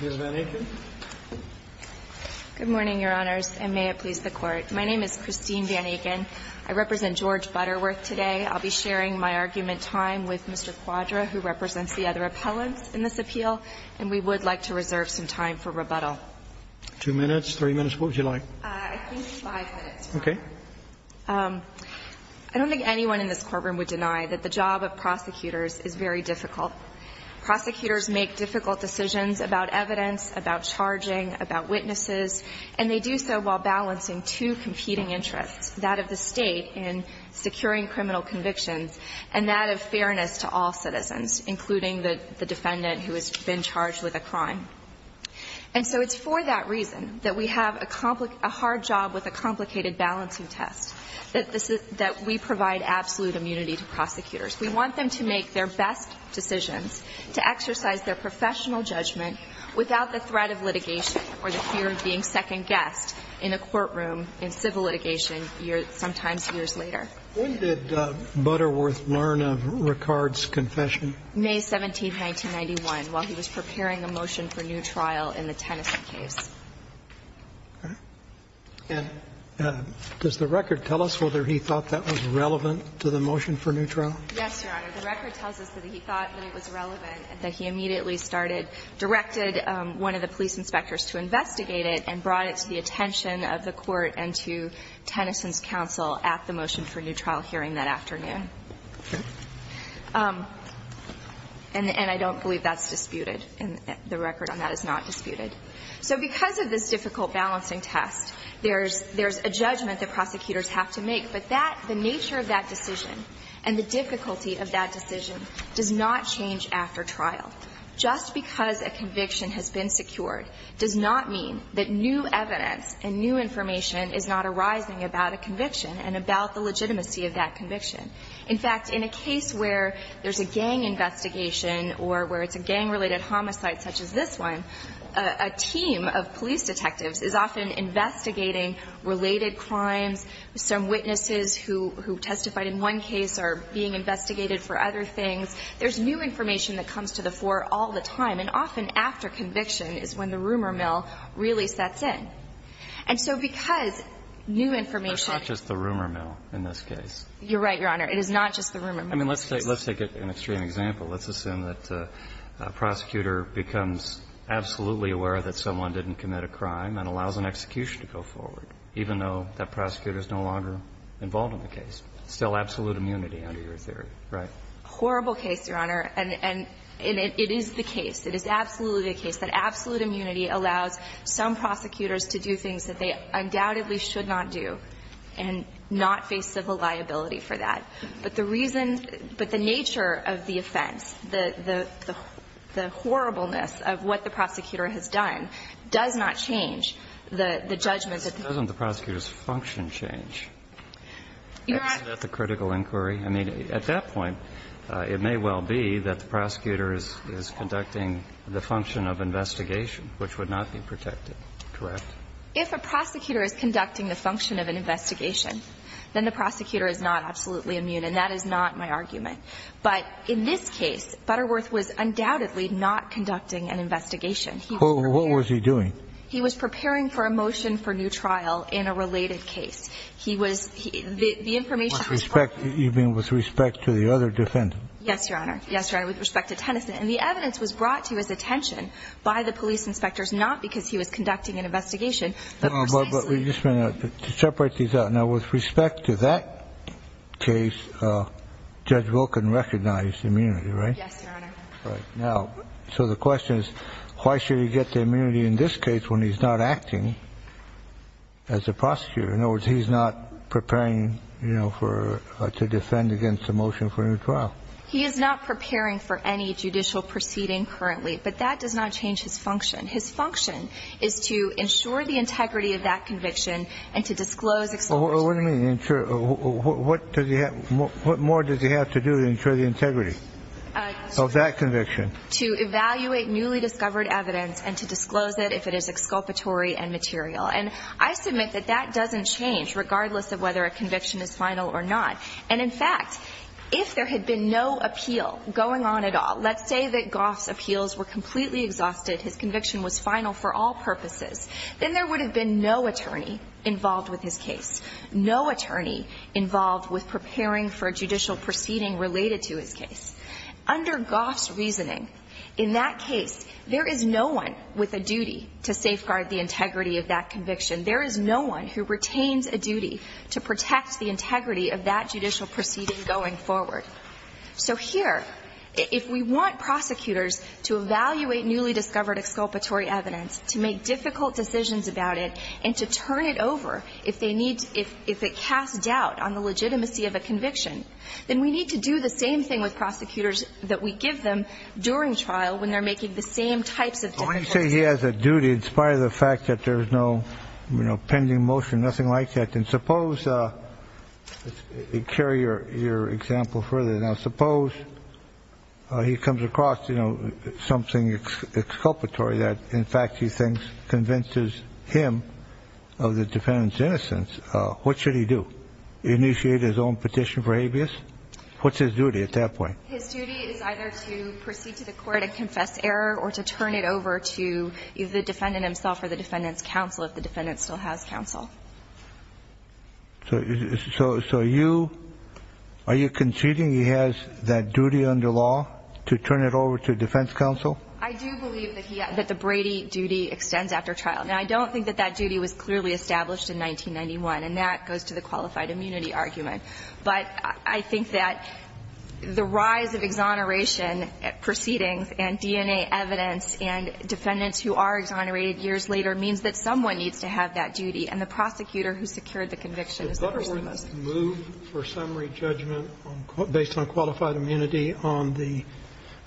Ms. Van Aken. Good morning, Your Honors, and may it please the Court. My name is Christine Van Aken. I represent George Butterworth today. I'll be sharing my argument time with Mr. Quadra, who represents the other appellants in this appeal, and we would like to reserve some time for rebuttal. Two minutes, three minutes, what would you like? I think five minutes, Your Honor. Okay. I don't think anyone in this courtroom would deny that the job of prosecutors is very difficult. Prosecutors make difficult decisions about evidence, about charging, about witnesses, and they do so while balancing two competing interests, that of the state in securing criminal convictions and that of fairness to all citizens, including the defendant who has been charged with a crime. And so it's for that reason that we have a hard job with a complicated balancing test, that we provide absolute immunity to prosecutors. We want them to make their best decisions, to exercise their professional judgment without the threat of litigation or the fear of being second-guessed in a courtroom in civil litigation sometimes years later. When did Butterworth learn of Ricard's confession? May 17, 1991, while he was preparing a motion for new trial in the Tennyson case. Okay. And does the record tell us whether he thought that was relevant to the motion for new trial? Yes, Your Honor. The record tells us that he thought that it was relevant and that he immediately started, directed one of the police inspectors to investigate it and brought it to the attention of the Court and to Tennyson's counsel at the motion for new trial hearing that afternoon. Okay. And I don't believe that's disputed. The record on that is not disputed. So because of this difficult balancing test, there's a judgment that prosecutors have to make. But that, the nature of that decision and the difficulty of that decision does not change after trial. Just because a conviction has been secured does not mean that new evidence and new information is not arising about a conviction and about the legitimacy of that conviction. In fact, in a case where there's a gang investigation or where it's a gang-related homicide such as this one, a team of police detectives is often investigating related crimes. Some witnesses who testified in one case are being investigated for other things. There's new information that comes to the fore all the time. And often after conviction is when the rumor mill really sets in. And so because new information ---- It's not just the rumor mill in this case. You're right, Your Honor. It is not just the rumor mill. I mean, let's take an extreme example. Let's assume that a prosecutor becomes absolutely aware that someone didn't commit a crime and allows an execution to go forward, even though that prosecutor is no longer involved in the case. Still absolute immunity under your theory, right? Horrible case, Your Honor. And it is the case. It is absolutely the case that absolute immunity allows some prosecutors to do things that they undoubtedly should not do and not face civil liability for that. But the reason ---- but the nature of the offense, the horribleness of what the prosecutor has done, does not change the judgment that the ---- Doesn't the prosecutor's function change? Isn't that the critical inquiry? I mean, at that point, it may well be that the prosecutor is conducting the function of investigation, which would not be protected. Correct? If a prosecutor is conducting the function of an investigation, then the prosecutor is not absolutely immune, and that is not my argument. But in this case, Butterworth was undoubtedly not conducting an investigation. What was he doing? He was preparing for a motion for new trial in a related case. He was ---- With respect to the other defendant? Yes, Your Honor. Yes, Your Honor, with respect to Tennyson. And the evidence was brought to his attention by the police inspectors, not because he was conducting an investigation, but precisely ---- But we just want to separate these out. Now, with respect to that case, Judge Wilkin recognized immunity, right? Yes, Your Honor. Right. Now, so the question is, why should he get the immunity in this case when he's not acting as a prosecutor? In other words, he's not preparing, you know, for or to defend against a motion for a new trial. He is not preparing for any judicial proceeding currently, but that does not change his function. His function is to ensure the integrity of that conviction and to disclose exceptions. What do you mean, ensure? What does he have to do to ensure the integrity of that conviction? To evaluate newly discovered evidence and to disclose it if it is exculpatory and material. And I submit that that doesn't change, regardless of whether a conviction is final or not. And, in fact, if there had been no appeal going on at all, let's say that Goff's appeals were completely exhausted, his conviction was final for all purposes, then there would have been no attorney involved with his case, no attorney involved with preparing for a judicial proceeding related to his case. Under Goff's reasoning, in that case, there is no one with a duty to safeguard the integrity of that conviction. There is no one who retains a duty to protect the integrity of that judicial proceeding going forward. So here, if we want prosecutors to evaluate newly discovered exculpatory evidence, to make difficult decisions about it, and to turn it over if they need to, if it casts doubt on the legitimacy of a conviction, then we need to do the same thing with prosecutors that we give them during trial when they're making the same types of difficult decisions. Kennedy. Well, when you say he has a duty in spite of the fact that there is no, you know, pending motion, nothing like that, then suppose you carry your example further. Now, suppose he comes across, you know, something exculpatory that, in fact, he thinks convinces him of the defendant's innocence, what should he do? Initiate his own petition for habeas? What's his duty at that point? His duty is either to proceed to the court and confess error, or to turn it over to either the defendant himself or the defendant's counsel, if the defendant still has counsel. So you are you conceding he has that duty under law to turn it over to defense counsel? I do believe that the Brady duty extends after trial. Now, I don't think that that duty was clearly established in 1991, and that goes to the qualified immunity argument. But I think that the rise of exoneration proceedings and DNA evidence and defendants who are exonerated years later means that someone needs to have that duty, and the prosecutor who secured the conviction is the person most at risk. Did Putterwood move for summary judgment based on qualified immunity on the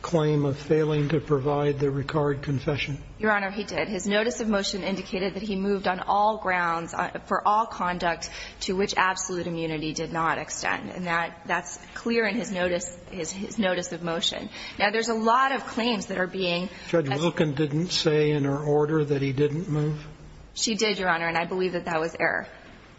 claim of failing to provide the Ricard confession? Your Honor, he did. His notice of motion indicated that he moved on all grounds for all conduct to which absolute immunity did not extend. And that's clear in his notice of motion. Now, there's a lot of claims that are being asked. Judge Wilken didn't say in her order that he didn't move? She did, Your Honor, and I believe that that was error.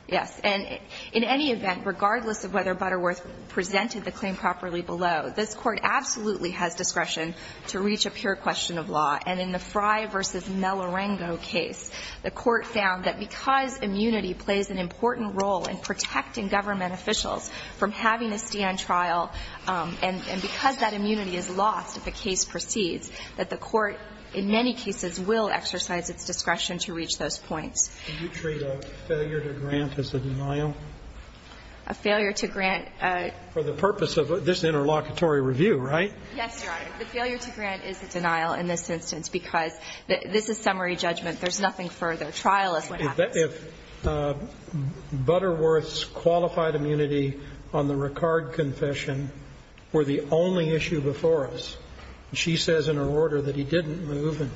Yes. And in any event, regardless of whether Butterworth presented the claim properly below, this Court absolutely has discretion to reach a pure question of law. And in the Frye v. Melarengo case, the Court found that because immunity plays an important role in protecting government officials from having to stand trial, and because that immunity is lost if a case proceeds, that the Court in many cases will exercise its discretion to reach those points. Do you treat a failure to grant as a denial? A failure to grant? For the purpose of this interlocutory review, right? Yes, Your Honor. The failure to grant is a denial in this instance because this is summary judgment. There's nothing further. Trial is what happens. If Butterworth's qualified immunity on the Ricard confession were the only issue before us, and she says in her order that he didn't move, and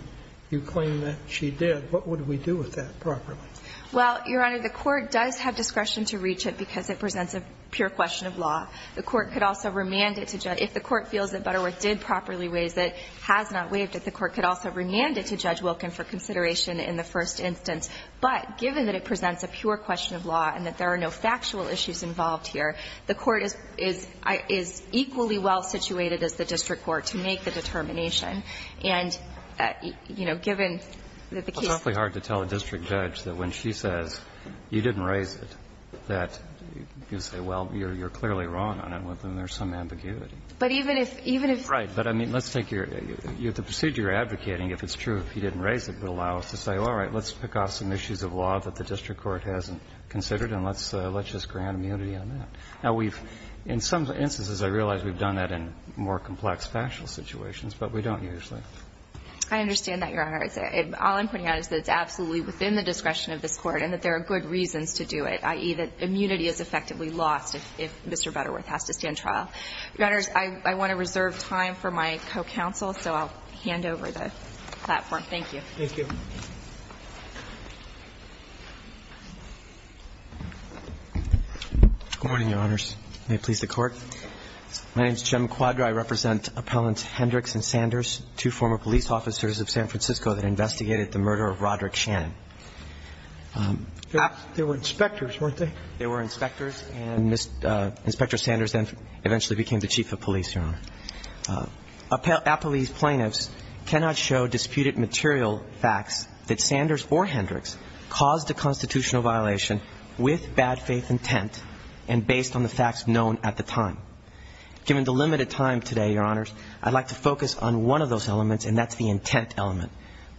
you claim that she did, what would we do with that properly? Well, Your Honor, the Court does have discretion to reach it because it presents a pure question of law. The Court could also remand it to Judge — if the Court feels that Butterworth did properly raise it, has not waived it, the Court could also remand it to Judge given that it presents a pure question of law and that there are no factual issues involved here. The Court is — is equally well situated as the district court to make the determination. And, you know, given that the case — It's awfully hard to tell a district judge that when she says you didn't raise it, that you can say, well, you're clearly wrong on it, and there's some ambiguity. But even if — even if — Right. But, I mean, let's take your — the procedure you're advocating, if it's true, if he didn't raise it, would allow us to say, all right, let's pick off some issues of law that the district court hasn't considered and let's — let's just grant immunity on that. Now, we've — in some instances, I realize we've done that in more complex factual situations, but we don't usually. I understand that, Your Honor. All I'm putting out is that it's absolutely within the discretion of this Court and that there are good reasons to do it, i.e., that immunity is effectively lost if Mr. Butterworth has to stand trial. Your Honors, I want to reserve time for my co-counsel, so I'll hand over the platform to Mr. McQuadry. Thank you. Thank you. Good morning, Your Honors. May it please the Court. My name is Jim McQuadry. I represent Appellants Hendricks and Sanders, two former police officers of San Francisco that investigated the murder of Roderick Shannon. They were inspectors, weren't they? They were inspectors, and Mr. — Inspector Sanders then eventually became the chief of police, Your Honor. Appellees plaintiffs cannot show disputed material facts that Sanders or Hendricks caused a constitutional violation with bad faith intent and based on the facts known at the time. Given the limited time today, Your Honors, I'd like to focus on one of those elements, and that's the intent element,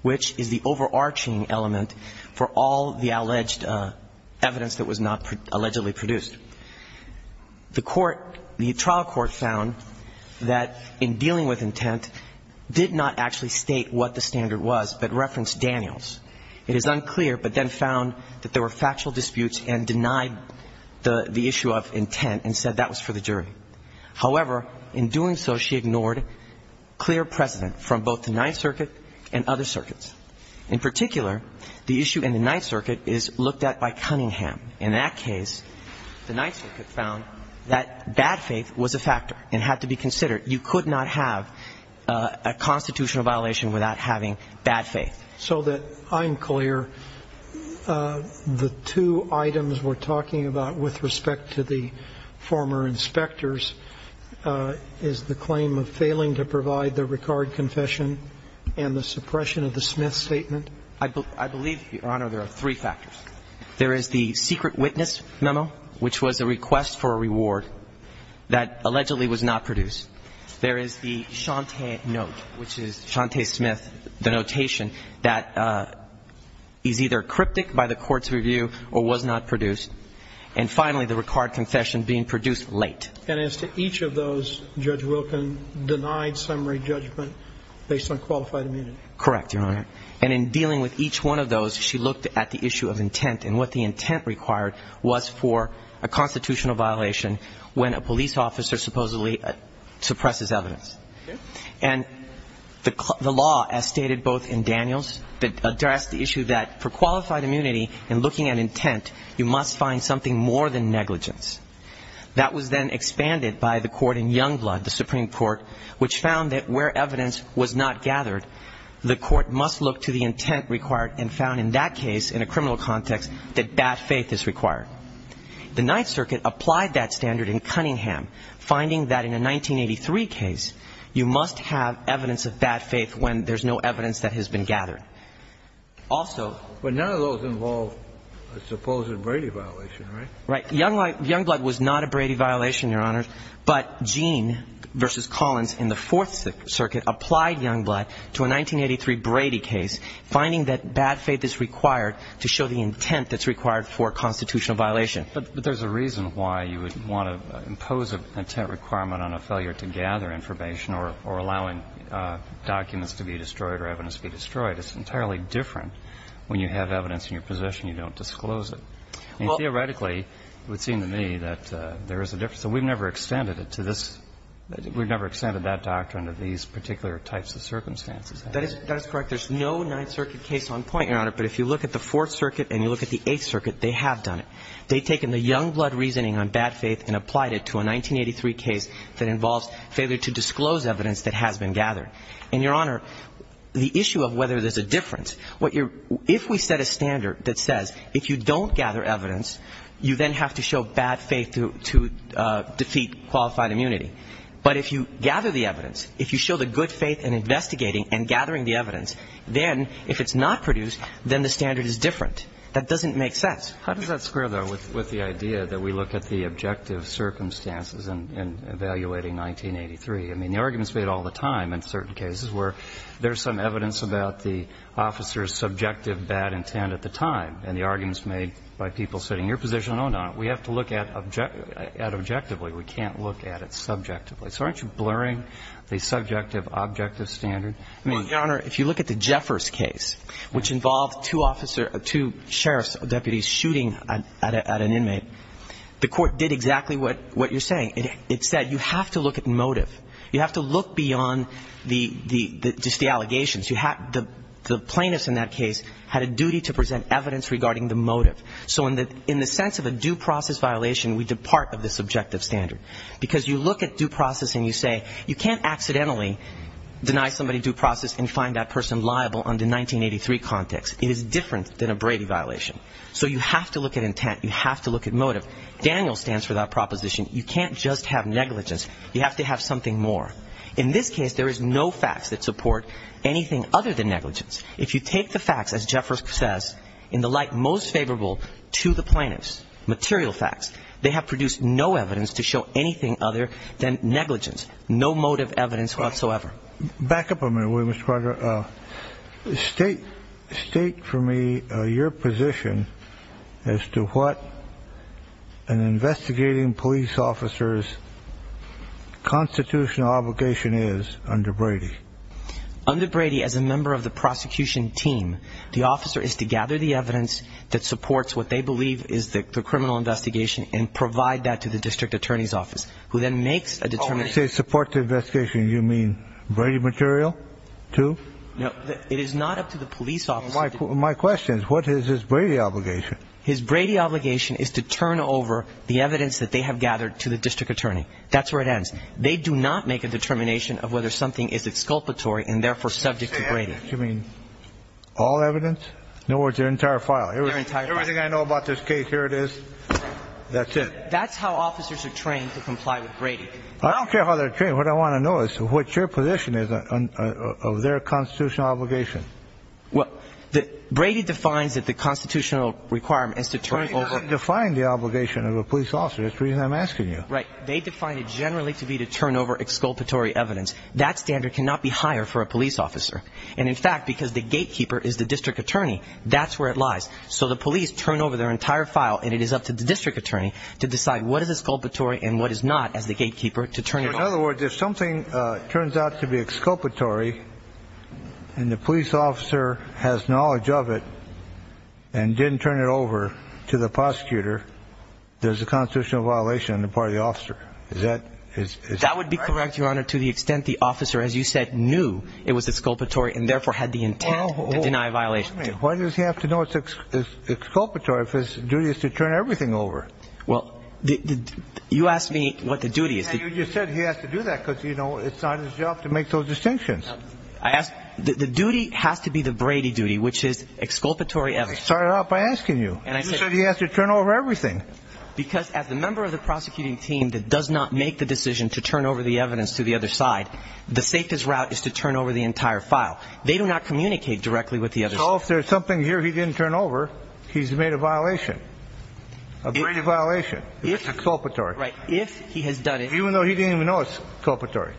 which is the overarching element for all the alleged evidence that was not allegedly produced. The trial court found that in dealing with intent, did not actually state what the standard was, but referenced Daniels. It is unclear, but then found that there were factual disputes and denied the issue of intent and said that was for the jury. However, in doing so, she ignored clear precedent from both the Ninth Circuit and other circuits. In particular, the issue in the Ninth Circuit is looked at by Cunningham. In that case, the Ninth Circuit found that bad faith was a factor and had to be considered. You could not have a constitutional violation without having bad faith. So that I'm clear, the two items we're talking about with respect to the former inspectors is the claim of failing to provide the Ricard confession and the suppression of the Smith statement? I believe, Your Honor, there are three factors. There is the secret witness memo, which was a request for a reward that allegedly was not produced. There is the Chante note, which is Chante Smith, the notation that is either cryptic by the court's review or was not produced. And finally, the Ricard confession being produced late. And as to each of those, Judge Wilkin denied summary judgment based on qualified immunity? Correct, Your Honor. And in dealing with each one of those, she looked at the issue of intent and what the intent required was for a constitutional violation when a police officer supposedly suppresses evidence. And the law, as stated both in Daniels, addressed the issue that for qualified immunity, in looking at intent, you must find something more than negligence. That was then expanded by the court in Youngblood, the Supreme Court, which found that where evidence was not gathered, the court must look to the intent required and found in that case, in a criminal context, that bad faith is required. The Ninth Circuit applied that standard in Cunningham, finding that in a 1983 case, you must have evidence of bad faith when there's no evidence that has been gathered. Also ñ But none of those involved a supposed Brady violation, right? Right. Youngblood was not a Brady violation, Your Honor. But Gene v. Collins in the Fourth Circuit applied Youngblood to a 1983 Brady case, finding that bad faith is required to show the intent that's required for a constitutional violation. But there's a reason why you would want to impose an intent requirement on a failure to gather information or allowing documents to be destroyed or evidence to be destroyed. It's entirely different when you have evidence in your possession, you don't disclose it. Well ñ Well, it seems to me that there is a difference. And we've never extended it to this ñ we've never extended that doctrine to these particular types of circumstances. That is correct. There's no Ninth Circuit case on point, Your Honor. But if you look at the Fourth Circuit and you look at the Eighth Circuit, they have done it. They've taken the Youngblood reasoning on bad faith and applied it to a 1983 case that involves failure to disclose evidence that has been gathered. And, Your Honor, the issue of whether there's a difference, what you're ñ if we set a standard that says if you don't gather evidence, you then have to show bad faith to defeat qualified immunity. But if you gather the evidence, if you show the good faith in investigating and gathering the evidence, then if it's not produced, then the standard is different. That doesn't make sense. How does that square, though, with the idea that we look at the objective circumstances in evaluating 1983? I mean, the argument's made all the time in certain cases where there's some evidence about the officer's subjective bad intent at the time. And the argument's made by people sitting in your position, oh, no, we have to look at objectively. We can't look at it subjectively. So aren't you blurring the subjective-objective standard? I mean, Your Honor, if you look at the Jeffers case, which involved two officer ñ two sheriff's deputies shooting at an inmate, the Court did exactly what you're saying. It said you have to look at motive. You have to look beyond the ñ just the allegations. You have ñ the plaintiffs in that case had a duty to present evidence regarding the motive. So in the sense of a due process violation, we depart of the subjective standard. Because you look at due process and you say you can't accidentally deny somebody due process and find that person liable under 1983 context. It is different than a Brady violation. So you have to look at intent. You have to look at motive. Daniel stands for that proposition. You can't just have negligence. You have to have something more. In this case, there is no facts that support anything other than negligence. If you take the facts, as Jeffers says, in the light most favorable to the plaintiffs, material facts, they have produced no evidence to show anything other than negligence, no motive evidence whatsoever. Back up a minute, Mr. Carter. State for me your position as to what an investigating police officer's constitutional obligation is under Brady. Under Brady, as a member of the prosecution team, the officer is to gather the evidence that supports what they believe is the criminal investigation and provide that to the district attorney's office, who then makes a determination ñ No, it is not up to the police officer. My question is, what is his Brady obligation? His Brady obligation is to turn over the evidence that they have gathered to the district attorney. That's where it ends. They do not make a determination of whether something is exculpatory and therefore subject to Brady. You mean all evidence? In other words, their entire file? Their entire file. Everything I know about this case, here it is. That's it. That's how officers are trained to comply with Brady. I don't care how they're trained. What I want to know is what your position is of their constitutional obligation. Brady defines that the constitutional requirement is to turn over ñ Brady doesn't define the obligation of a police officer. That's the reason I'm asking you. Right. They define it generally to be to turn over exculpatory evidence. That standard cannot be higher for a police officer. And in fact, because the gatekeeper is the district attorney, that's where it lies. So the police turn over their entire file, and it is up to the district attorney to decide what is exculpatory and what is not as the gatekeeper to turn it over. In other words, if something turns out to be exculpatory and the police officer has knowledge of it and didn't turn it over to the prosecutor, there's a constitutional violation on the part of the officer. Is that right? That would be correct, Your Honor, to the extent the officer, as you said, knew it was exculpatory and therefore had the intent to deny a violation. Wait a minute. Why does he have to know it's exculpatory if his duty is to turn everything over? Well, you asked me what the duty is. You said he has to do that because, you know, it's not his job to make those distinctions. The duty has to be the Brady duty, which is exculpatory evidence. I started out by asking you. You said he has to turn over everything. Because as the member of the prosecuting team that does not make the decision to turn over the evidence to the other side, the safest route is to turn over the entire file. They do not communicate directly with the other side. So if there's something here he didn't turn over, he's made a violation, a Brady violation. It's exculpatory. Right. If he has done it. Even though he didn't even know it's exculpatory.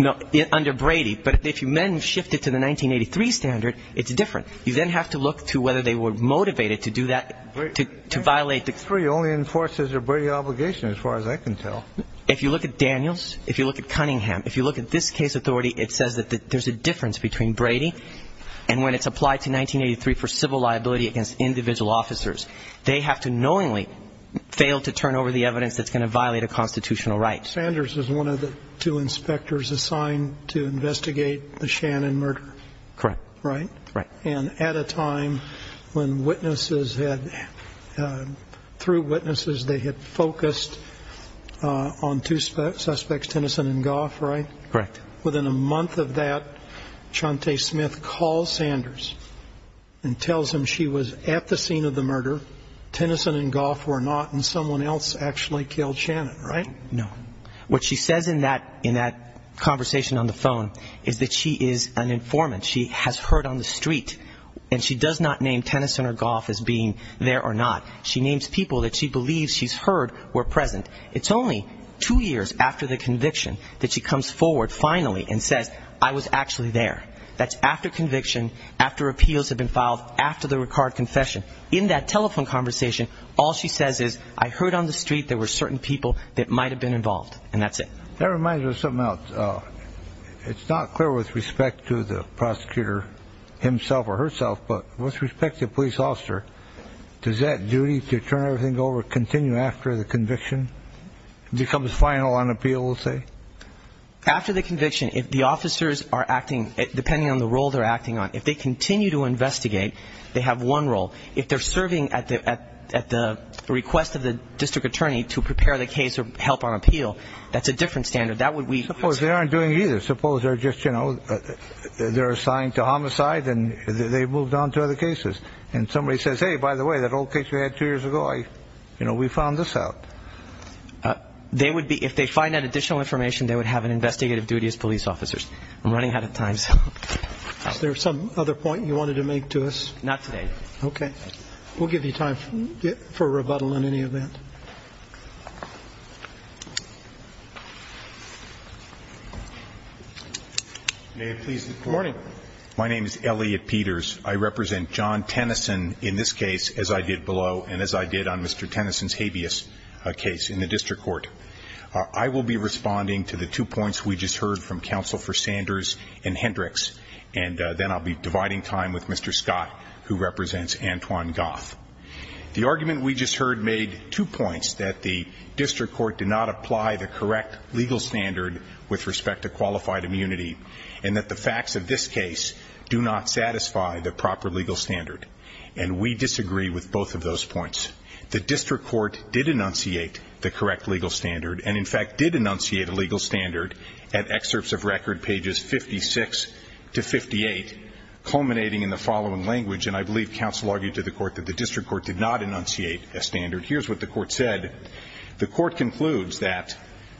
No. Under Brady. But if men shifted to the 1983 standard, it's different. You then have to look to whether they were motivated to do that, to violate the... 1983 only enforces their Brady obligation as far as I can tell. If you look at Daniels, if you look at Cunningham, if you look at this case authority, it says that there's a difference between Brady and when it's applied to 1983 for civil liability against individual officers. They have to knowingly fail to turn over the evidence that's going to violate a constitutional right. Sanders is one of the two inspectors assigned to investigate the Shannon murder. Correct. Right? Right. And at a time when witnesses had, through witnesses, they had focused on two suspects, Tennyson and Goff, right? Correct. Within a month of that, Chante Smith calls Sanders and tells him she was at the scene of the murder. Tennyson and Goff were not, and someone else actually killed Shannon, right? No. What she says in that conversation on the phone is that she is an informant. She has heard on the street, and she does not name Tennyson or Goff as being there or not. She names people that she believes she's heard were present. It's only two years after the conviction that she comes forward finally and says, I was actually there. That's after conviction, after appeals have been filed, after the Ricard confession. In that telephone conversation, all she says is, I heard on the street there were certain people that might have been involved. And that's it. That reminds me of something else. It's not clear with respect to the prosecutor himself or herself, but with respect to the police officer, does that duty to turn everything over continue after the conviction becomes final on appeal, we'll say? After the conviction, if the officers are acting, depending on the role they're acting on, if they continue to investigate, they have one role. If they're serving at the request of the district attorney to prepare the case or help on appeal, that's a different standard. Suppose they aren't doing either. Suppose they're just, you know, they're assigned to homicide and they've moved on to other cases. And somebody says, hey, by the way, that old case you had two years ago, you know, we found this out. They would be, if they find that additional information, they would have an investigative duty as police officers. I'm running out of time. Is there some other point you wanted to make to us? Not today. Okay. We'll give you time for rebuttal on any of that. May it please the Court. Morning. My name is Elliot Peters. I represent John Tennyson in this case, as I did below and as I did on Mr. Tennyson's habeas case in the district court. I will be responding to the two points we just heard from Counsel for Sanders and Hendricks, and then I'll be dividing time with Mr. Scott, who represents Antoine Goff. The argument we just heard made two points, that the district court did not apply the correct legal standard with respect to And we disagree with both of those points. The district court did enunciate the correct legal standard and, in fact, did enunciate a legal standard at excerpts of record, pages 56 to 58, culminating in the following language, and I believe Counsel argued to the court that the district court did not enunciate a standard. Here's what the court said. The court concludes that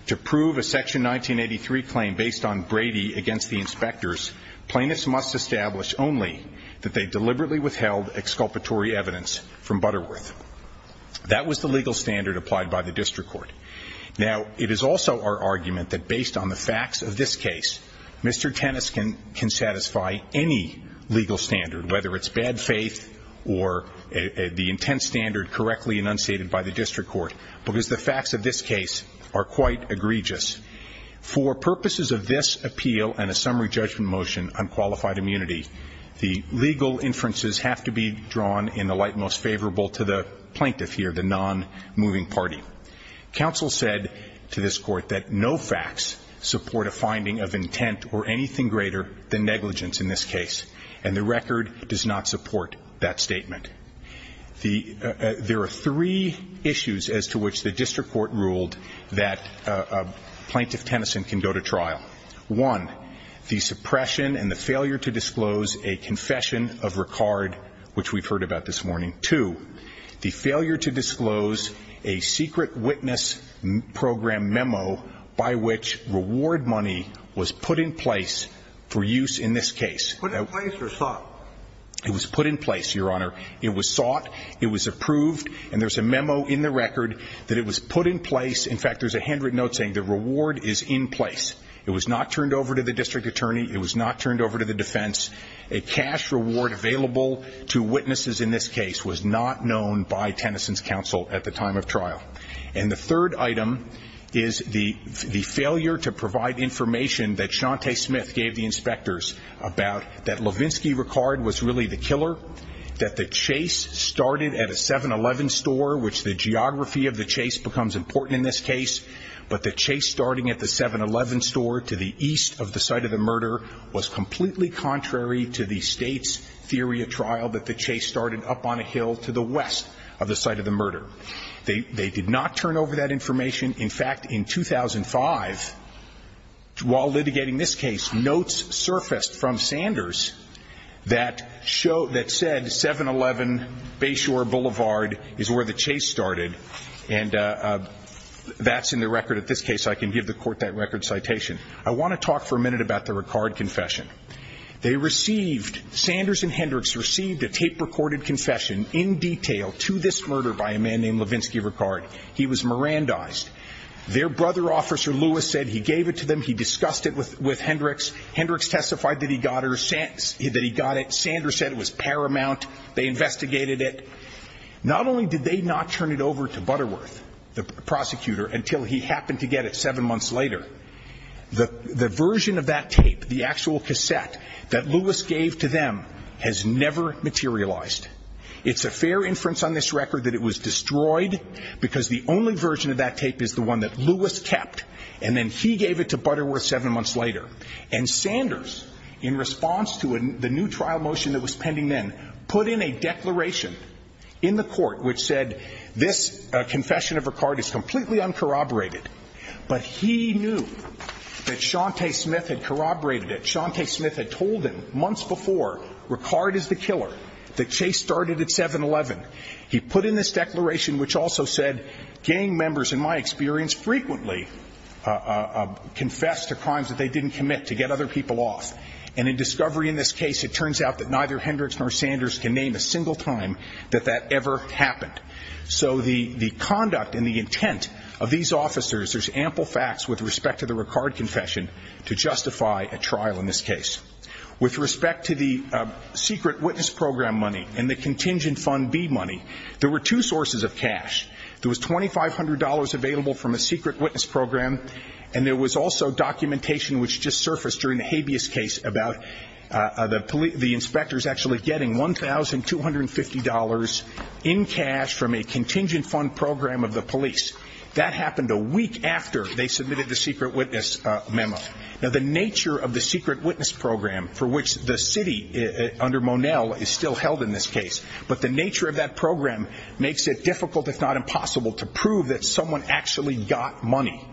to prove a Section 1983 claim based on Brady against the inspectors, plaintiffs must establish only that they deliberately withheld exculpatory evidence from Butterworth. That was the legal standard applied by the district court. Now, it is also our argument that based on the facts of this case, Mr. Tennyson can satisfy any legal standard, whether it's bad faith or the intense standard correctly enunciated by the district court, because the facts of this case are quite egregious. For purposes of this appeal and a summary judgment motion on qualified immunity, the legal inferences have to be drawn in the light most favorable to the plaintiff here, the nonmoving party. Counsel said to this court that no facts support a finding of intent or anything greater than negligence in this case, and the record does not support that statement. There are three issues as to which the district court ruled that Plaintiff Tennyson can go to trial. One, the suppression and the failure to disclose a confession of Ricard, which we've heard about this morning. Two, the failure to disclose a secret witness program memo by which reward money was put in place for use in this case. Put in place or sought? It was put in place, Your Honor. It was sought. It was approved. And there's a memo in the record that it was put in place. In fact, there's a handwritten note saying the reward is in place. It was not turned over to the district attorney. It was not turned over to the defense. A cash reward available to witnesses in this case was not known by Tennyson's counsel at the time of trial. And the third item is the failure to provide information that Shante Smith gave the inspectors about that Levinsky Ricard was really the killer, that the chase started at a 7-Eleven store, which the geography of the chase becomes important in this case, but the chase starting at the 7-Eleven store to the east of the site of the murder was completely contrary to the state's theory of trial, that the chase started up on a hill to the west of the site of the murder. They did not turn over that information. In fact, in 2005, while litigating this case, notes surfaced from Sanders that said 7-Eleven Bayshore Boulevard is where the chase started. And that's in the record of this case. I can give the Court that record citation. I want to talk for a minute about the Ricard confession. They received, Sanders and Hendricks received a tape-recorded confession in detail to this murder by a man named Levinsky Ricard. He was Mirandized. Their brother, Officer Lewis, said he gave it to them. He discussed it with Hendricks. Hendricks testified that he got it. Sanders said it was paramount. They investigated it. Not only did they not turn it over to Butterworth, the prosecutor, until he happened to get it seven months later, the version of that tape, the actual cassette that Lewis gave to them, has never materialized. It's a fair inference on this record that it was destroyed because the only version of that tape is the one that Lewis kept, and then he gave it to Butterworth seven months later. And Sanders, in response to the new trial motion that was pending then, put in a declaration in the Court which said, This confession of Ricard is completely uncorroborated. But he knew that Shantae Smith had corroborated it. Shantae Smith had told him months before, Ricard is the killer, that Chase started at 7-Eleven. He put in this declaration which also said gang members, in my experience, frequently confess to crimes that they didn't commit to get other people off. And in discovery in this case, it turns out that neither Hendricks nor Sanders can name a single time that that ever happened. So the conduct and the intent of these officers, there's ample facts with respect to the Ricard confession to justify a trial in this case. With respect to the secret witness program money and the contingent fund B money, there were two sources of cash. There was $2,500 available from a secret witness program, and there was also documentation which just surfaced during the habeas case about the inspectors actually getting $1,250 in cash from a contingent fund program of the police. That happened a week after they submitted the secret witness memo. Now, the nature of the secret witness program for which the city under Monell is still held in this case, but the nature of that program makes it difficult, if not impossible, to prove that someone actually got money.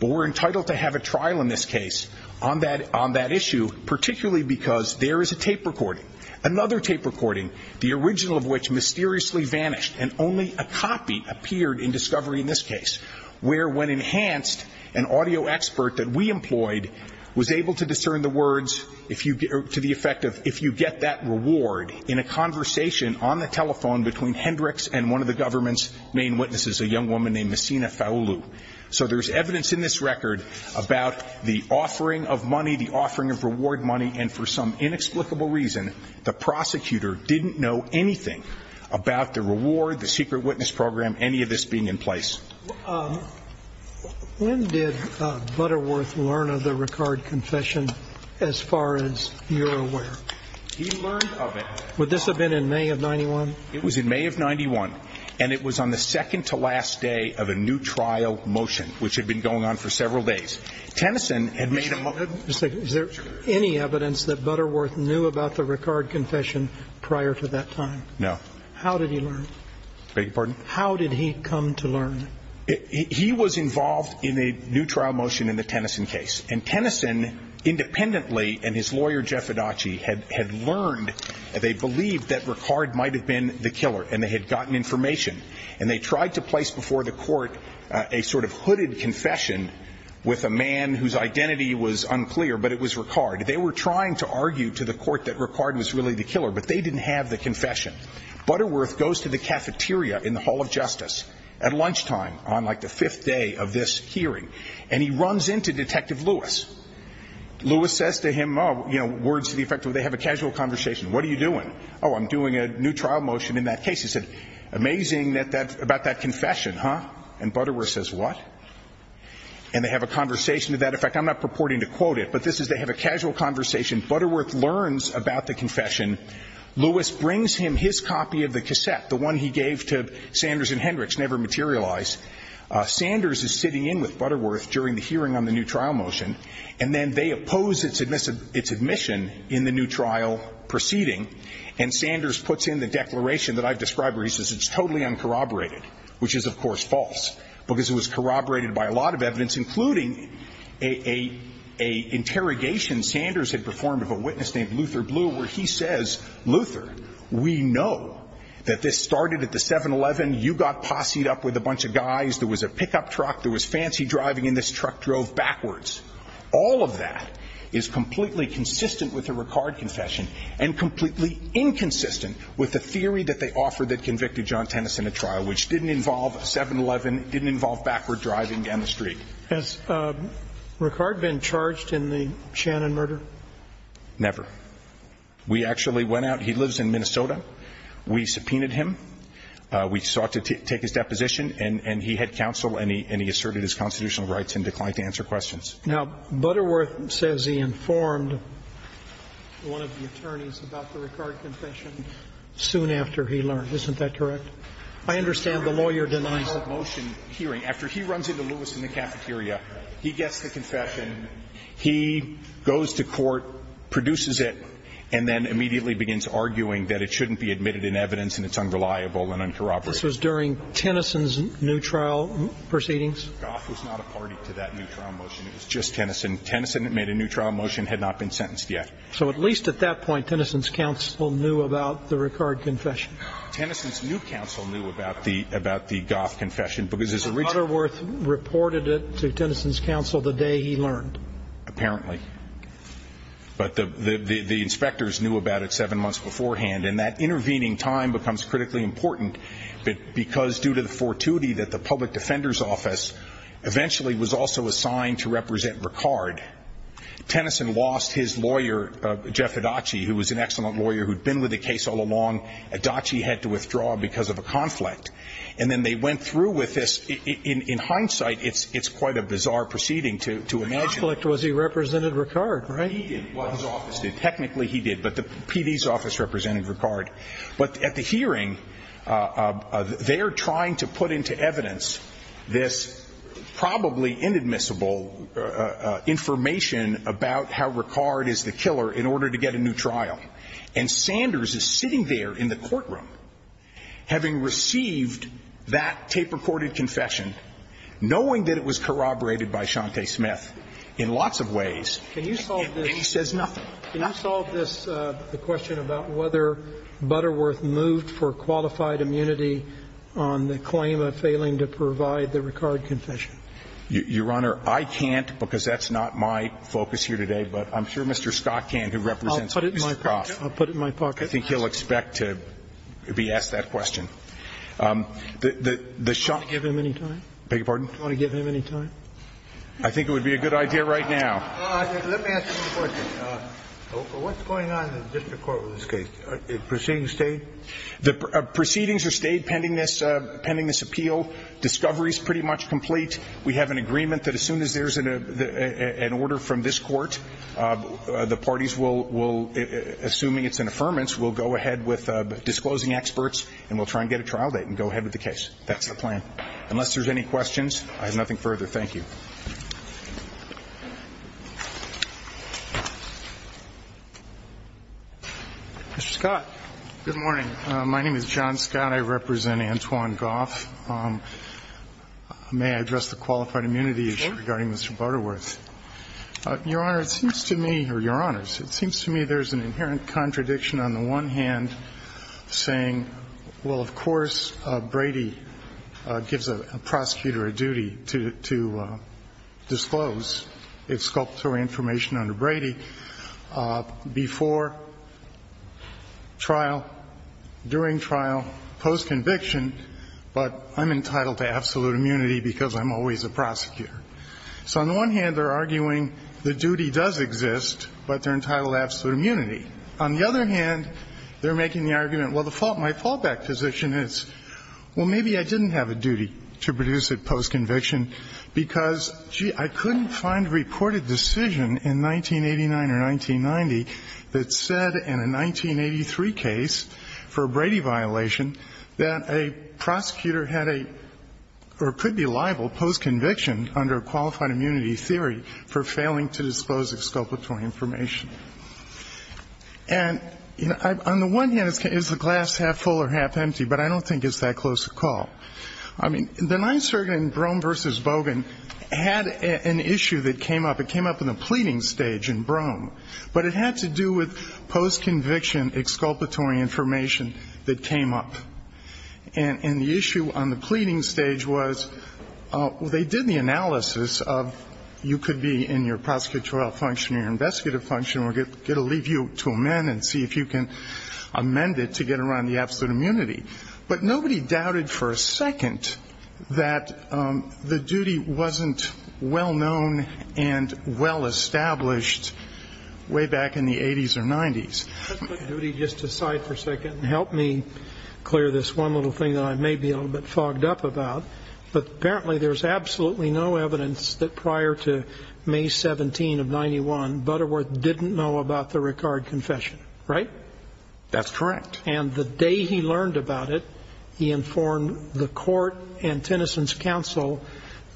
But we're entitled to have a trial in this case on that issue, particularly because there is a tape recording. Another tape recording, the original of which mysteriously vanished, and only a copy appeared in discovery in this case, where when enhanced, an audio expert that we employed was able to discern the words to the effect of, if you get that reward in a conversation on the telephone between Hendricks and one of the government's main witnesses, a young woman named Messina Faolu. So there's evidence in this record about the offering of money, the offering of reward money, and for some inexplicable reason, the prosecutor didn't know anything about the reward, the secret witness program, any of this being in place. When did Butterworth learn of the Ricard confession, as far as you're aware? He learned of it. Would this have been in May of 91? It was in May of 91, and it was on the second to last day of a new trial motion, which had been going on for several days. Tennyson had made a motion. Is there any evidence that Butterworth knew about the Ricard confession prior to that time? No. How did he learn? Beg your pardon? How did he come to learn? He was involved in a new trial motion in the Tennyson case. And Tennyson, independently, and his lawyer, Jeff Adachi, had learned, they believed that Ricard might have been the killer, and they had gotten information. And they tried to place before the court a sort of hooded confession with a man whose identity was unclear, but it was Ricard. They were trying to argue to the court that Ricard was really the killer, but they didn't have the confession. Butterworth goes to the cafeteria in the Hall of Justice at lunchtime on, like, the fifth day of this hearing, and he runs into Detective Lewis. Lewis says to him, oh, you know, words to the effect, well, they have a casual conversation. What are you doing? Oh, I'm doing a new trial motion in that case. He said, amazing about that confession, huh? And Butterworth says, what? And they have a conversation to that effect. I'm not purporting to quote it, but this is they have a casual conversation. Butterworth learns about the confession. Lewis brings him his copy of the cassette, the one he gave to Sanders and Hendricks, never materialized. Sanders is sitting in with Butterworth during the hearing on the new trial motion, and then they oppose its admission in the new trial proceeding, and Sanders puts in the declaration that I've described where he says it's totally uncorroborated, which is, of course, false, because it was corroborated by a lot of evidence, including an interrogation Sanders had performed of a witness named Luther Blue, where he says, Luther, we know that this started at the 7-Eleven. You got posse-ed up with a bunch of guys. There was a pickup truck. There was fancy driving, and this truck drove backwards. All of that is completely consistent with the Ricard confession and completely inconsistent with the theory that they offered that convicted John Tennyson at trial, which didn't involve 7-Eleven, didn't involve backward driving down the street. Has Ricard been charged in the Shannon murder? Never. We actually went out. He lives in Minnesota. We subpoenaed him. We sought to take his deposition, and he had counsel, and he asserted his constitutional rights and declined to answer questions. Now, Butterworth says he informed one of the attorneys about the Ricard confession soon after he learned. Isn't that correct? I understand the lawyer denies it. After he runs into Lewis in the cafeteria, he gets the confession. He goes to court, produces it, and then immediately begins arguing that it shouldn't be admitted in evidence and it's unreliable and uncorroborated. This was during Tennyson's new trial proceedings? Goff was not a party to that new trial motion. It was just Tennyson. Tennyson made a new trial motion, had not been sentenced yet. So at least at that point, Tennyson's counsel knew about the Ricard confession. Tennyson's new counsel knew about the Goff confession because there's a reason. So Butterworth reported it to Tennyson's counsel the day he learned? Apparently. But the inspectors knew about it 7 months beforehand, and that intervening time becomes critically important because due to the fortuity that the public defender's office eventually was also assigned to represent Ricard, Tennyson lost his lawyer, Jeff Adachi, who was an excellent lawyer who had been with the case all along. Adachi had to withdraw because of a conflict. And then they went through with this. In hindsight, it's quite a bizarre proceeding to imagine. The conflict was he represented Ricard, right? He did. Well, his office did. Technically he did, but the PD's office represented Ricard. But at the hearing, they're trying to put into evidence this probably inadmissible information about how Ricard is the killer in order to get a new trial. And Sanders is sitting there in the courtroom having received that tape-recorded confession, knowing that it was corroborated by Shante Smith in lots of ways, and he says nothing. Can you solve this, the question about whether Butterworth moved for qualified immunity on the claim of failing to provide the Ricard confession? Your Honor, I can't because that's not my focus here today. But I'm sure Mr. Scott can, who represents Mr. Croft. I'll put it in my pocket. I think he'll expect to be asked that question. Do you want to give him any time? I beg your pardon? Do you want to give him any time? I think it would be a good idea right now. Let me ask you a question. What's going on in the district court with this case? Proceedings stayed? Proceedings are stayed pending this appeal. Discovery is pretty much complete. We have an agreement that as soon as there's an order from this court, the parties will, assuming it's an affirmance, will go ahead with disclosing experts, and we'll try and get a trial date and go ahead with the case. That's the plan. Unless there's any questions, I have nothing further. Thank you. Mr. Scott. Good morning. My name is John Scott. I represent Antoine Goff. May I address the qualified immunity issue regarding Mr. Butterworth? Your Honor, it seems to me or your Honors, it seems to me there's an inherent contradiction on the one hand saying, well, of course, Brady gives a prosecutor a duty to disclose its sculptural information under Brady before trial, during trial, post-conviction, but I'm entitled to absolute immunity because I'm always a prosecutor. So on the one hand, they're arguing the duty does exist, but they're entitled to absolute immunity. On the other hand, they're making the argument, well, my fallback position is, well, maybe I didn't have a duty to produce it post-conviction because, gee, I couldn't find a reported decision in 1989 or 1990 that said in a 1983 case for a Brady violation that a prosecutor had a or could be liable post-conviction under a qualified immunity theory for failing to disclose its sculptural information. And on the one hand, is the glass half full or half empty? But I don't think it's that close a call. I mean, the Ninth Circuit in Brougham v. Bogan had an issue that came up. It came up in the pleading stage in Brougham, but it had to do with post-conviction exculpatory information that came up. And the issue on the pleading stage was they did the analysis of you could be in your prosecutorial function or your investigative function, we're going to leave you to amend and see if you can amend it to get around the absolute immunity. But nobody doubted for a second that the duty wasn't well-known and well-established way back in the 80s or 90s. Let's put duty just aside for a second and help me clear this one little thing that I may be a little bit fogged up about. But apparently there's absolutely no evidence that prior to May 17 of 91, Butterworth didn't know about the Ricard confession. Right? That's correct. And the day he learned about it, he informed the court and Tennyson's counsel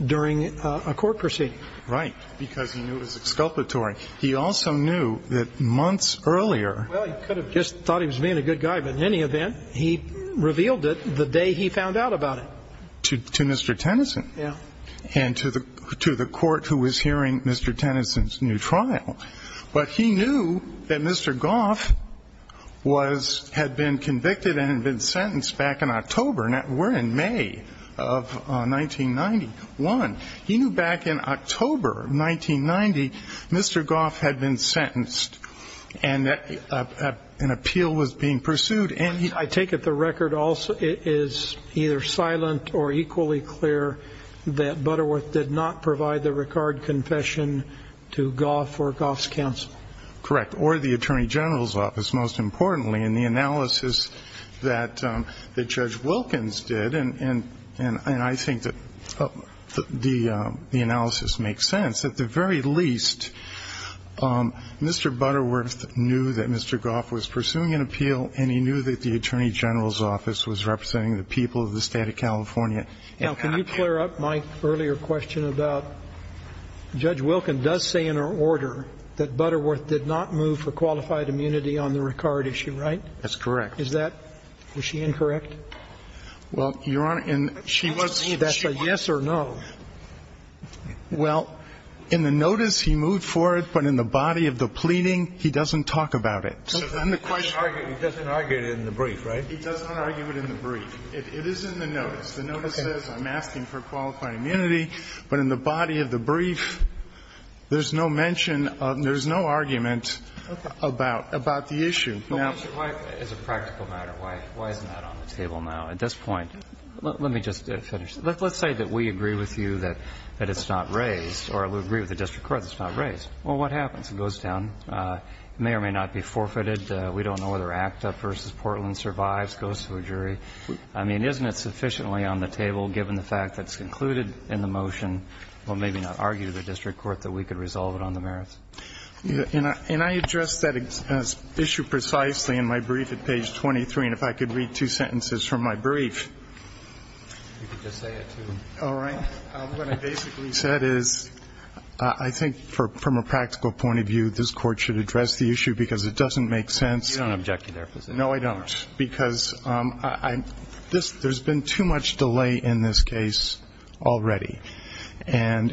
during a court proceeding. Right. Because he knew it was exculpatory. He also knew that months earlier. Well, he could have just thought he was being a good guy, but in any event, he revealed it the day he found out about it. To Mr. Tennyson. Yeah. And to the court who was hearing Mr. Tennyson's new trial. But he knew that Mr. Goff had been convicted and had been sentenced back in October. We're in May of 1991. He knew back in October of 1990 Mr. Goff had been sentenced and an appeal was being pursued. And I take it the record is either silent or equally clear that Butterworth did not provide the Ricard confession to Goff or Goff's counsel. Correct. Or the Attorney General's office, most importantly. And the analysis that Judge Wilkins did, and I think that the analysis makes sense, at the very least, Mr. Butterworth knew that Mr. Goff was pursuing an appeal and he knew that the Attorney General's office was representing the people of the State of California. Now, can you clear up my earlier question about Judge Wilkins does say in her order that Butterworth did not move for qualified immunity on the Ricard issue, right? That's correct. Is that? Was she incorrect? Well, Your Honor, she was. That's a yes or no. Well, in the notice he moved for it, but in the body of the pleading, he doesn't talk about it. He doesn't argue it in the brief, right? He doesn't argue it in the brief. It is in the notice. The notice says I'm asking for qualified immunity, but in the body of the brief, there's no mention of, there's no argument about the issue. But why, as a practical matter, why isn't that on the table now at this point? Let me just finish. Let's say that we agree with you that it's not raised or we agree with the district court that it's not raised. Well, what happens? It goes down. It may or may not be forfeited. We don't know whether ACT UP v. Portland survives, goes to a jury. I mean, isn't it sufficiently on the table, given the fact that it's concluded in the motion, well, maybe not argue to the district court that we could resolve it on the merits? And I addressed that issue precisely in my brief at page 23. And if I could read two sentences from my brief. You could just say it, too. All right. What I basically said is I think from a practical point of view, this Court should address the issue because it doesn't make sense. You don't object to their position. No, I don't. Because there's been too much delay in this case already. And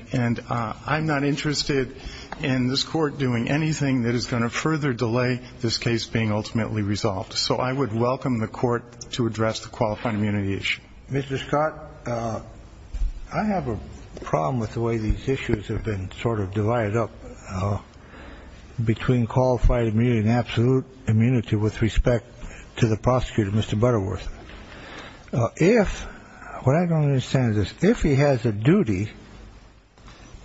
I'm not interested in this Court doing anything that is going to further delay this case being ultimately resolved. So I would welcome the Court to address the qualified immunity issue. Mr. Scott, I have a problem with the way these issues have been sort of divided up between qualified immunity and absolute immunity with respect to the prosecutor, Mr. Butterworth. If what I don't understand is this. If he has a duty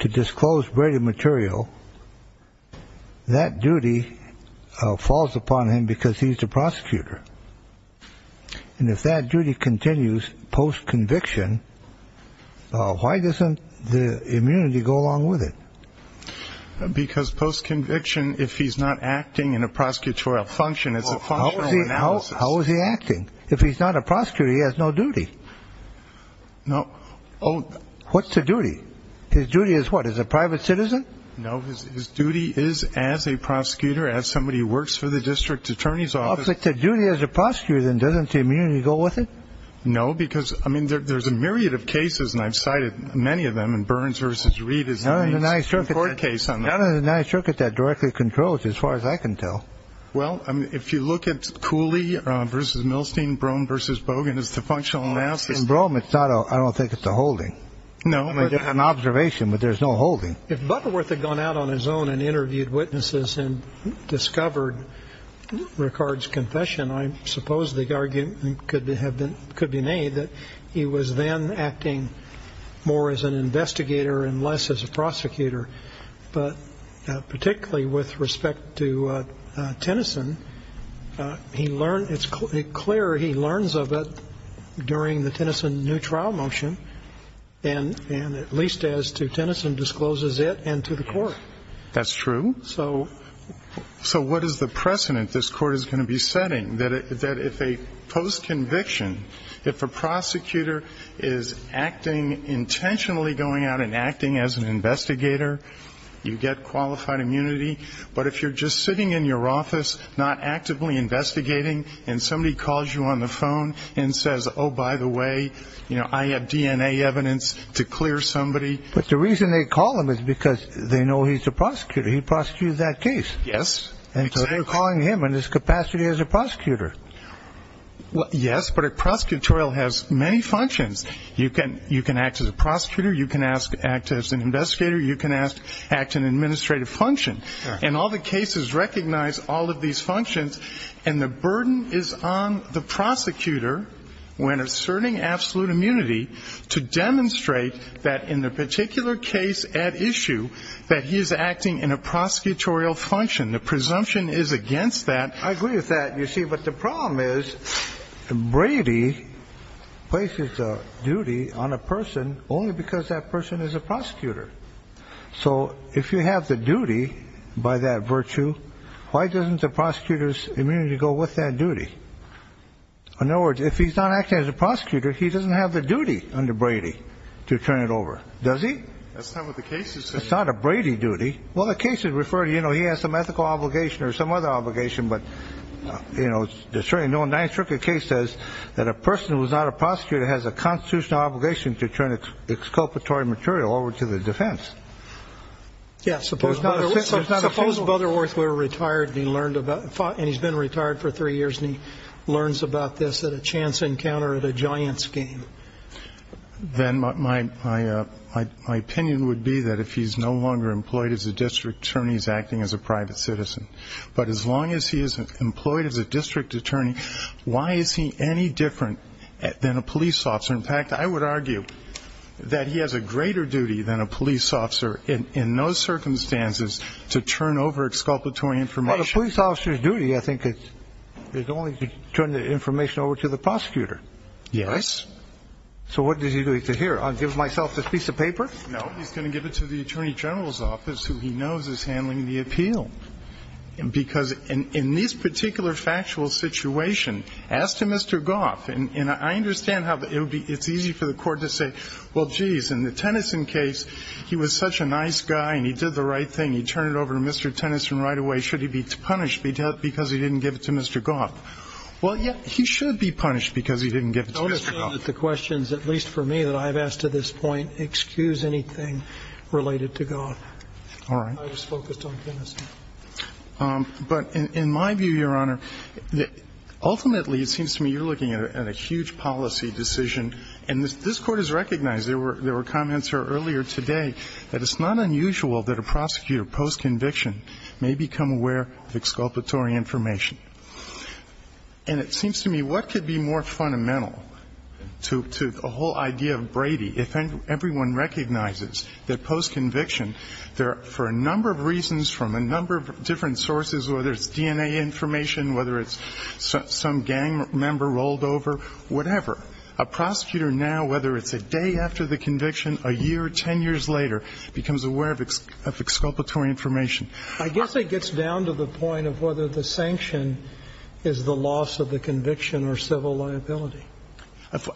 to disclose braided material, that duty falls upon him because he's the prosecutor. And if that duty continues post-conviction, why doesn't the immunity go along with it? Because post-conviction, if he's not acting in a prosecutorial function, it's a functional analysis. How is he acting? If he's not a prosecutor, he has no duty. No. What's the duty? His duty is what? As a private citizen? No. His duty is as a prosecutor, as somebody who works for the district attorney's office. If the duty is a prosecutor, then doesn't the immunity go with it? No, because, I mean, there's a myriad of cases, and I've cited many of them. And Burns v. Reed is the main court case on that. None of the nine circuits that directly control it, as far as I can tell. Well, if you look at Cooley v. Milstein, Brougham v. Bogan as the functional analysis. In Brougham, I don't think it's a holding. No. It's an observation, but there's no holding. If Butterworth had gone out on his own and interviewed witnesses and discovered Ricard's confession, I suppose the argument could be made that he was then acting more as an investigator and less as a prosecutor. But particularly with respect to Tennyson, it's clear he learns of it during the Tennyson new trial motion, and at least as to Tennyson discloses it, and to the court. That's true. So what is the precedent this court is going to be setting? That if a post-conviction, if a prosecutor is acting intentionally, going out and acting as an investigator, you get qualified immunity. But if you're just sitting in your office, not actively investigating, and somebody calls you on the phone and says, oh, by the way, I have DNA evidence to clear somebody. But the reason they call him is because they know he's a prosecutor. He prosecuted that case. Yes. And so they're calling him in his capacity as a prosecutor. Yes, but a prosecutorial has many functions. You can act as a prosecutor. You can act as an investigator. You can act an administrative function. And all the cases recognize all of these functions, and the burden is on the prosecutor when asserting absolute immunity to demonstrate that in the particular case at issue that he is acting in a prosecutorial function. The presumption is against that. I agree with that, you see. But the problem is Brady places a duty on a person only because that person is a prosecutor. So if you have the duty by that virtue, why doesn't the prosecutor's immunity go with that duty? In other words, if he's not acting as a prosecutor, he doesn't have the duty under Brady to turn it over, does he? That's not what the case is saying. That's not a Brady duty. Well, the case is referring to, you know, he has some ethical obligation or some other obligation, but, you know, the 9th Circuit case says that a person who is not a prosecutor has a constitutional obligation to turn exculpatory material over to the defense. Yeah, suppose Butterworth were retired and he's been retired for three years and he learns about this at a chance encounter at a Giants game. Then my opinion would be that if he's no longer employed as a district attorney, he's acting as a private citizen. But as long as he isn't employed as a district attorney, why is he any different than a police officer? In fact, I would argue that he has a greater duty than a police officer in those circumstances to turn over exculpatory information. Well, the police officer's duty, I think, is only to turn the information over to the prosecutor. Yes. So what does he do? He says, here, I'll give myself this piece of paper. No, he's going to give it to the attorney general's office, who he knows is handling the appeal. Because in this particular factual situation, as to Mr. Goff, and I understand how it's easy for the court to say, well, geez, in the Tennyson case, he was such a nice guy and he did the right thing. He turned it over to Mr. Tennyson right away. Should he be punished because he didn't give it to Mr. Goff? Well, yeah, he should be punished because he didn't give it to Mr. Goff. Don't assume that the questions, at least for me, that I've asked to this point, excuse anything related to Goff. All right. I was focused on Tennyson. But in my view, Your Honor, ultimately it seems to me you're looking at a huge policy decision. And this Court has recognized, there were comments here earlier today, that it's not unusual that a prosecutor post-conviction may become aware of exculpatory information. And it seems to me what could be more fundamental to the whole idea of Brady if everyone recognizes that post-conviction, for a number of reasons from a number of different sources, whether it's DNA information, whether it's some gang member rolled over, whatever, a prosecutor now, whether it's a day after the conviction, a year, ten years later, becomes aware of exculpatory information. I guess it gets down to the point of whether the sanction is the loss of the conviction or civil liability.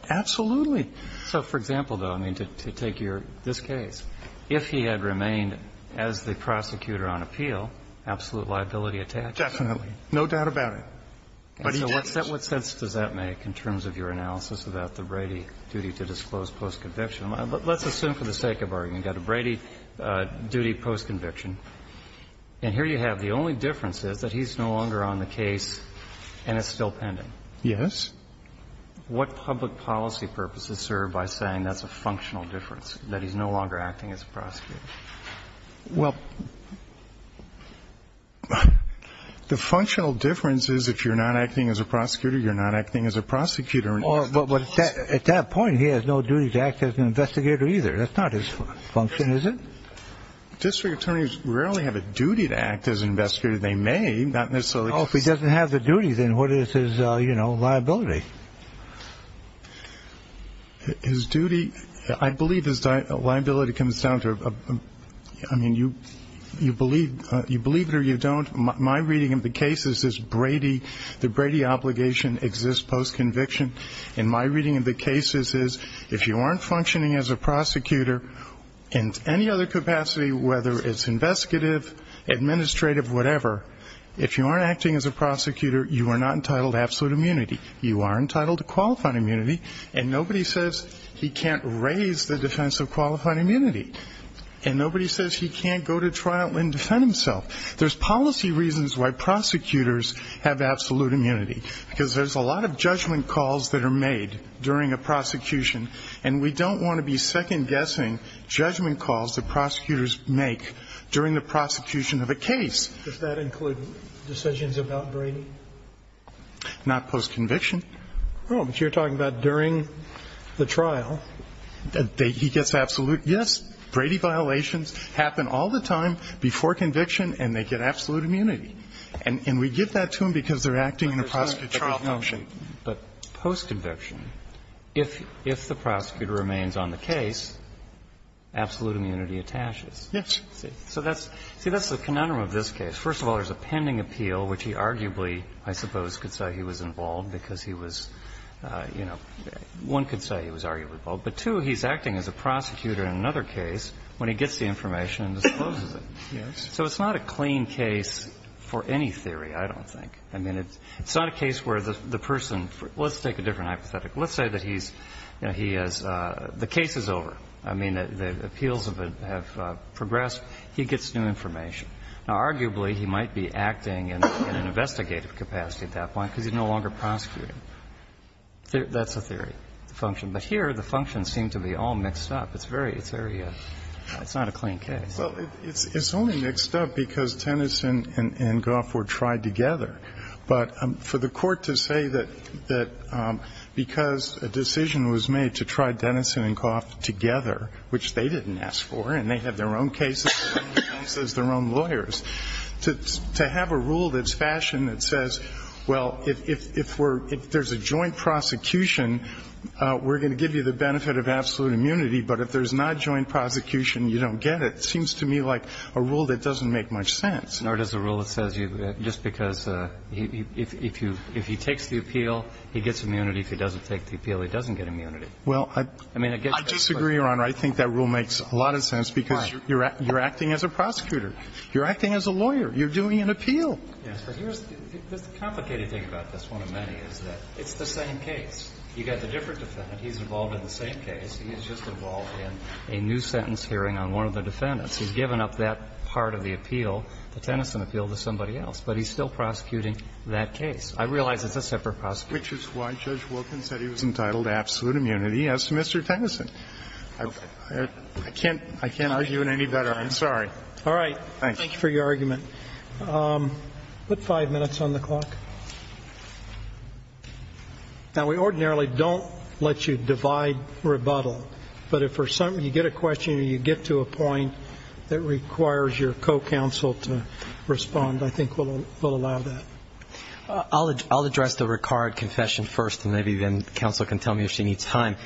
Absolutely. So for example, though, I mean, to take your – this case, if he had remained as the prosecutor on appeal, absolute liability attached to him. Definitely. No doubt about it. But he didn't. So what sense does that make in terms of your analysis about the Brady duty to disclose post-conviction? Let's assume, for the sake of argument, you've got a Brady duty post-conviction. And here you have the only difference is that he's no longer on the case and it's still pending. Yes. What public policy purposes serve by saying that's a functional difference, that he's no longer acting as a prosecutor? Well, the functional difference is if you're not acting as a prosecutor, you're not acting as a prosecutor. At that point, he has no duty to act as an investigator either. That's not his function, is it? District attorneys rarely have a duty to act as an investigator. They may, not necessarily. Well, if he doesn't have the duty, then what is his liability? His duty, I believe his liability comes down to, I mean, you believe it or you don't. My reading of the case is the Brady obligation exists post-conviction. And my reading of the case is if you aren't functioning as a prosecutor in any other capacity, whether it's investigative, administrative, whatever, if you aren't acting as a prosecutor, you are not entitled to absolute immunity. You are entitled to qualified immunity. And nobody says he can't raise the defense of qualified immunity. And nobody says he can't go to trial and defend himself. There's policy reasons why prosecutors have absolute immunity, because there's a lot of judgment calls that are made during a prosecution, and we don't want to be second-guessing judgment calls that prosecutors make during the prosecution of a case. Does that include decisions about Brady? Not post-conviction. Oh, but you're talking about during the trial. He gets absolute. Yes. Brady violations happen all the time before conviction, and they get absolute immunity. And we give that to them because they're acting in a prosecutorial function. But post-conviction, if the prosecutor remains on the case, absolute immunity attaches. Yes. So that's the conundrum of this case. First of all, there's a pending appeal, which he arguably, I suppose, could say he was involved because he was, you know, one could say he was arguably involved. But, two, he's acting as a prosecutor in another case when he gets the information and discloses it. Yes. So it's not a clean case for any theory, I don't think. I mean, it's not a case where the person for – let's take a different hypothetical. Let's say that he's, you know, he has – the case is over. I mean, the appeals have progressed. He gets new information. Now, arguably, he might be acting in an investigative capacity at that point because he's no longer prosecuting. That's a theory, the function. But here, the functions seem to be all mixed up. It's very – it's very – it's not a clean case. Well, it's only mixed up because Tennyson and Goff were tried together. But for the Court to say that because a decision was made to try Tennyson and Goff together, which they didn't ask for, and they had their own cases and they chose their own lawyers, to have a rule that's fashioned that says, well, if we're – if there's a joint prosecution, we're going to give you the benefit of absolute immunity, but if there's not joint prosecution, you don't get it, seems to me like a rule that doesn't make much sense. Nor does a rule that says you – just because if you – if he takes the appeal, he gets immunity. If he doesn't take the appeal, he doesn't get immunity. Well, I disagree, Your Honor. I think that rule makes a lot of sense because you're acting as a prosecutor. You're acting as a lawyer. You're doing an appeal. Yes, but here's – the complicated thing about this one of many is that it's the same case. You've got the different defendant. He's involved in the same case. He's just involved in a new sentence hearing on one of the defendants. He's given up that part of the appeal, the Tennyson appeal, to somebody else. But he's still prosecuting that case. I realize it's a separate prosecution. Which is why Judge Wilkins said he was entitled to absolute immunity, as to Mr. Tennyson. I can't – I can't argue it any better. I'm sorry. All right. Thank you for your argument. Put 5 minutes on the clock. Now, we ordinarily don't let you divide rebuttal. But if you get a question and you get to a point that requires your co-counsel to respond, I think we'll allow that. I'll address the Ricard confession first, and maybe then counsel can tell me if she needs time.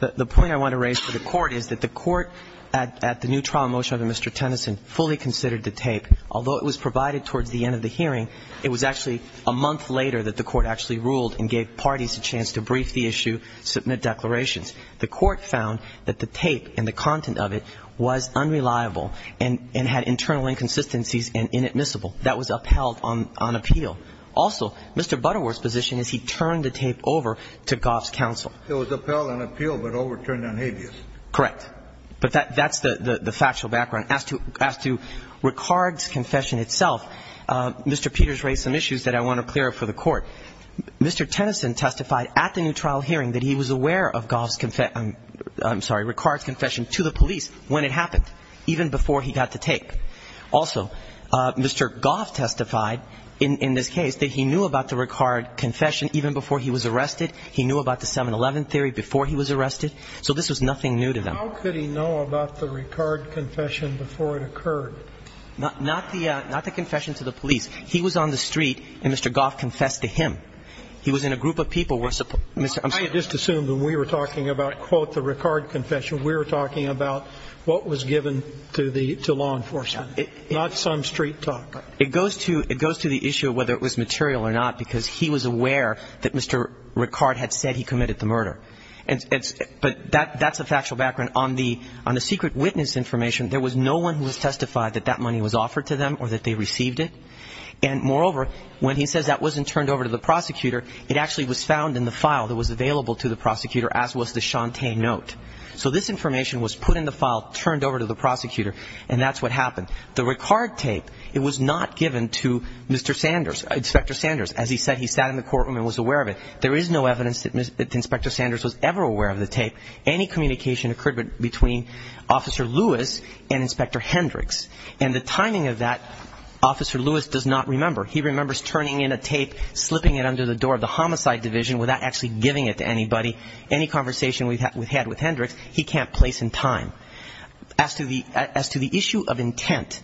The point I want to raise for the Court is that the Court, at the new trial motion under Mr. Tennyson, fully considered the tape. Although it was provided towards the end of the hearing, it was actually a month later that the Court actually ruled and gave parties a chance to brief the issue, submit declarations. The Court found that the tape and the content of it was unreliable and had internal inconsistencies and inadmissible. That was upheld on appeal. Also, Mr. Butterworth's position is he turned the tape over to Goff's counsel. It was upheld on appeal but overturned on habeas. Correct. But that's the factual background. As to Ricard's confession itself, Mr. Peters raised some issues that I want to clear up for the Court. Mr. Tennyson testified at the new trial hearing that he was aware of Goff's confession – I'm sorry, Ricard's confession to the police when it happened, even before he got the tape. Also, Mr. Goff testified in this case that he knew about the Ricard confession even before he was arrested. He knew about the 7-11 theory before he was arrested. So this was nothing new to them. How could he know about the Ricard confession before it occurred? Not the confession to the police. He was on the street and Mr. Goff confessed to him. He was in a group of people where Mr. – I'm sorry. I just assumed when we were talking about, quote, the Ricard confession, we were talking about what was given to the – to law enforcement, not some street talk. It goes to – it goes to the issue of whether it was material or not because he was aware that Mr. Ricard had said he committed the murder. But that's a factual background. On the secret witness information, there was no one who has testified that that money was offered to them or that they received it. And moreover, when he says that wasn't turned over to the prosecutor, it actually was found in the file that was available to the prosecutor, as was the Shantay note. So this information was put in the file, turned over to the prosecutor, and that's what happened. The Ricard tape, it was not given to Mr. Sanders – Inspector Sanders. As he said, he sat in the courtroom and was aware of it. There is no evidence that Inspector Sanders was ever aware of the tape. Any communication occurred between Officer Lewis and Inspector Hendricks. And the timing of that, Officer Lewis does not remember. He remembers turning in a tape, slipping it under the door of the Homicide Division without actually giving it to anybody. Any conversation we've had with Hendricks, he can't place in time. As to the issue of intent,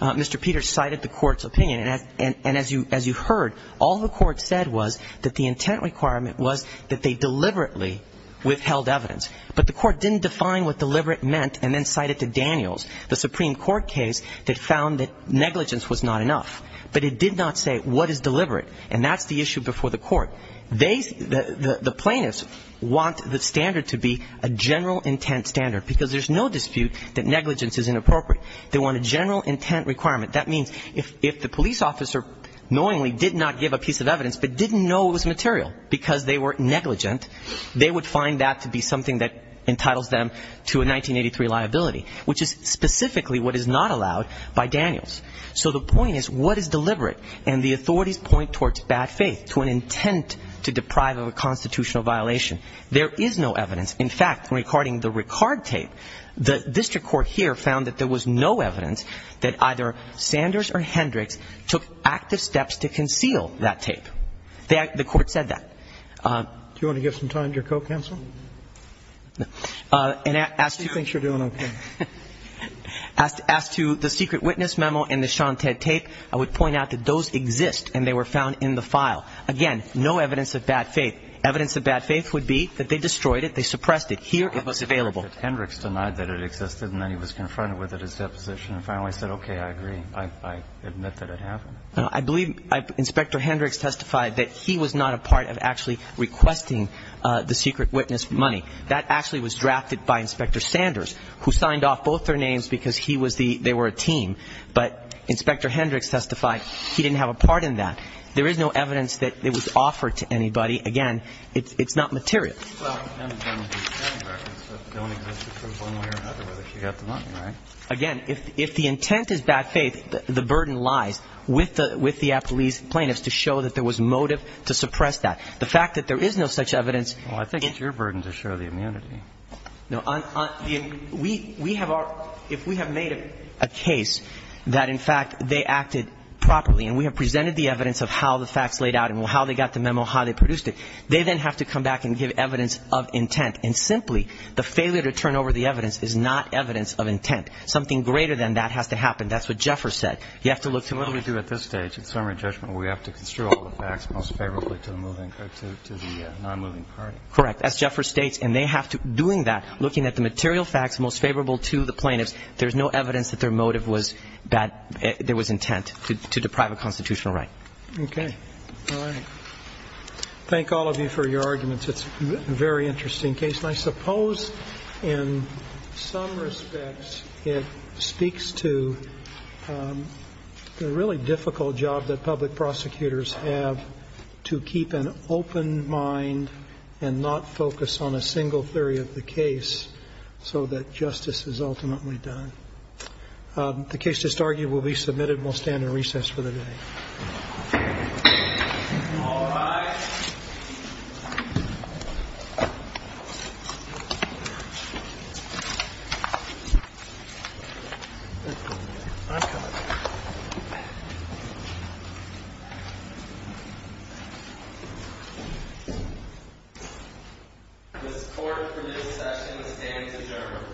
Mr. Peters cited the court's opinion. And as you heard, all the court said was that the intent requirement was that they deliberately withheld evidence. But the court didn't define what deliberate meant and then cited to Daniels. The Supreme Court case that found that negligence was not enough, but it did not say what is deliberate. And that's the issue before the court. The plaintiffs want the standard to be a general intent standard because there's no dispute that negligence is inappropriate. They want a general intent requirement. That means if the police officer knowingly did not give a piece of evidence but didn't know it was material because they were negligent, they would find that to be something that entitles them to a 1983 liability, which is specifically what is not allowed by Daniels. So the point is what is deliberate? And the authorities point towards bad faith, to an intent to deprive of a constitutional violation. There is no evidence. In fact, regarding the Ricard tape, the district court here found that there was no evidence that either Sanders or Hendricks took active steps to conceal that tape. The court said that. Do you want to give some time to your co-counsel? No. Do you think you're doing okay? As to the secret witness memo and the Sean Ted tape, I would point out that those exist and they were found in the file. Again, no evidence of bad faith. Evidence of bad faith would be that they destroyed it, they suppressed it. Here it was available. Hendricks denied that it existed and then he was confronted with it at his deposition and finally said, okay, I agree. I admit that it happened. I believe Inspector Hendricks testified that he was not a part of actually requesting the secret witness money. That actually was drafted by Inspector Sanders, who signed off both their names because they were a team. But Inspector Hendricks testified he didn't have a part in that. There is no evidence that it was offered to anybody. Again, it's not material. Again, if the intent is bad faith, the burden lies with the police plaintiffs to show that there was motive to suppress that. The fact that there is no such evidence. Well, I think it's your burden to show the immunity. No. We have our ‑‑ if we have made a case that in fact they acted properly and we have presented the evidence of how the facts laid out and how they got the memo, how they produced it, they then have to come back and give evidence of intent. And simply the failure to turn over the evidence is not evidence of intent. Something greater than that has to happen. That's what Jeffers said. You have to look to ‑‑ So what do we do at this stage in summary judgment? We have to construe all the facts most favorably to the nonmoving party. Correct. As Jeffers states, and they have to, doing that, looking at the material facts most favorable to the plaintiffs, there's no evidence that their motive was bad, there was intent to deprive a constitutional right. Okay. All right. Thank all of you for your arguments. It's a very interesting case. And I suppose in some respects it speaks to the really difficult job that public prosecutors have to keep an open mind and not focus on a single theory of the case so that justice is ultimately done. The case to start will be submitted and we'll stand in recess for the day. All rise. This court for this session stands adjourned.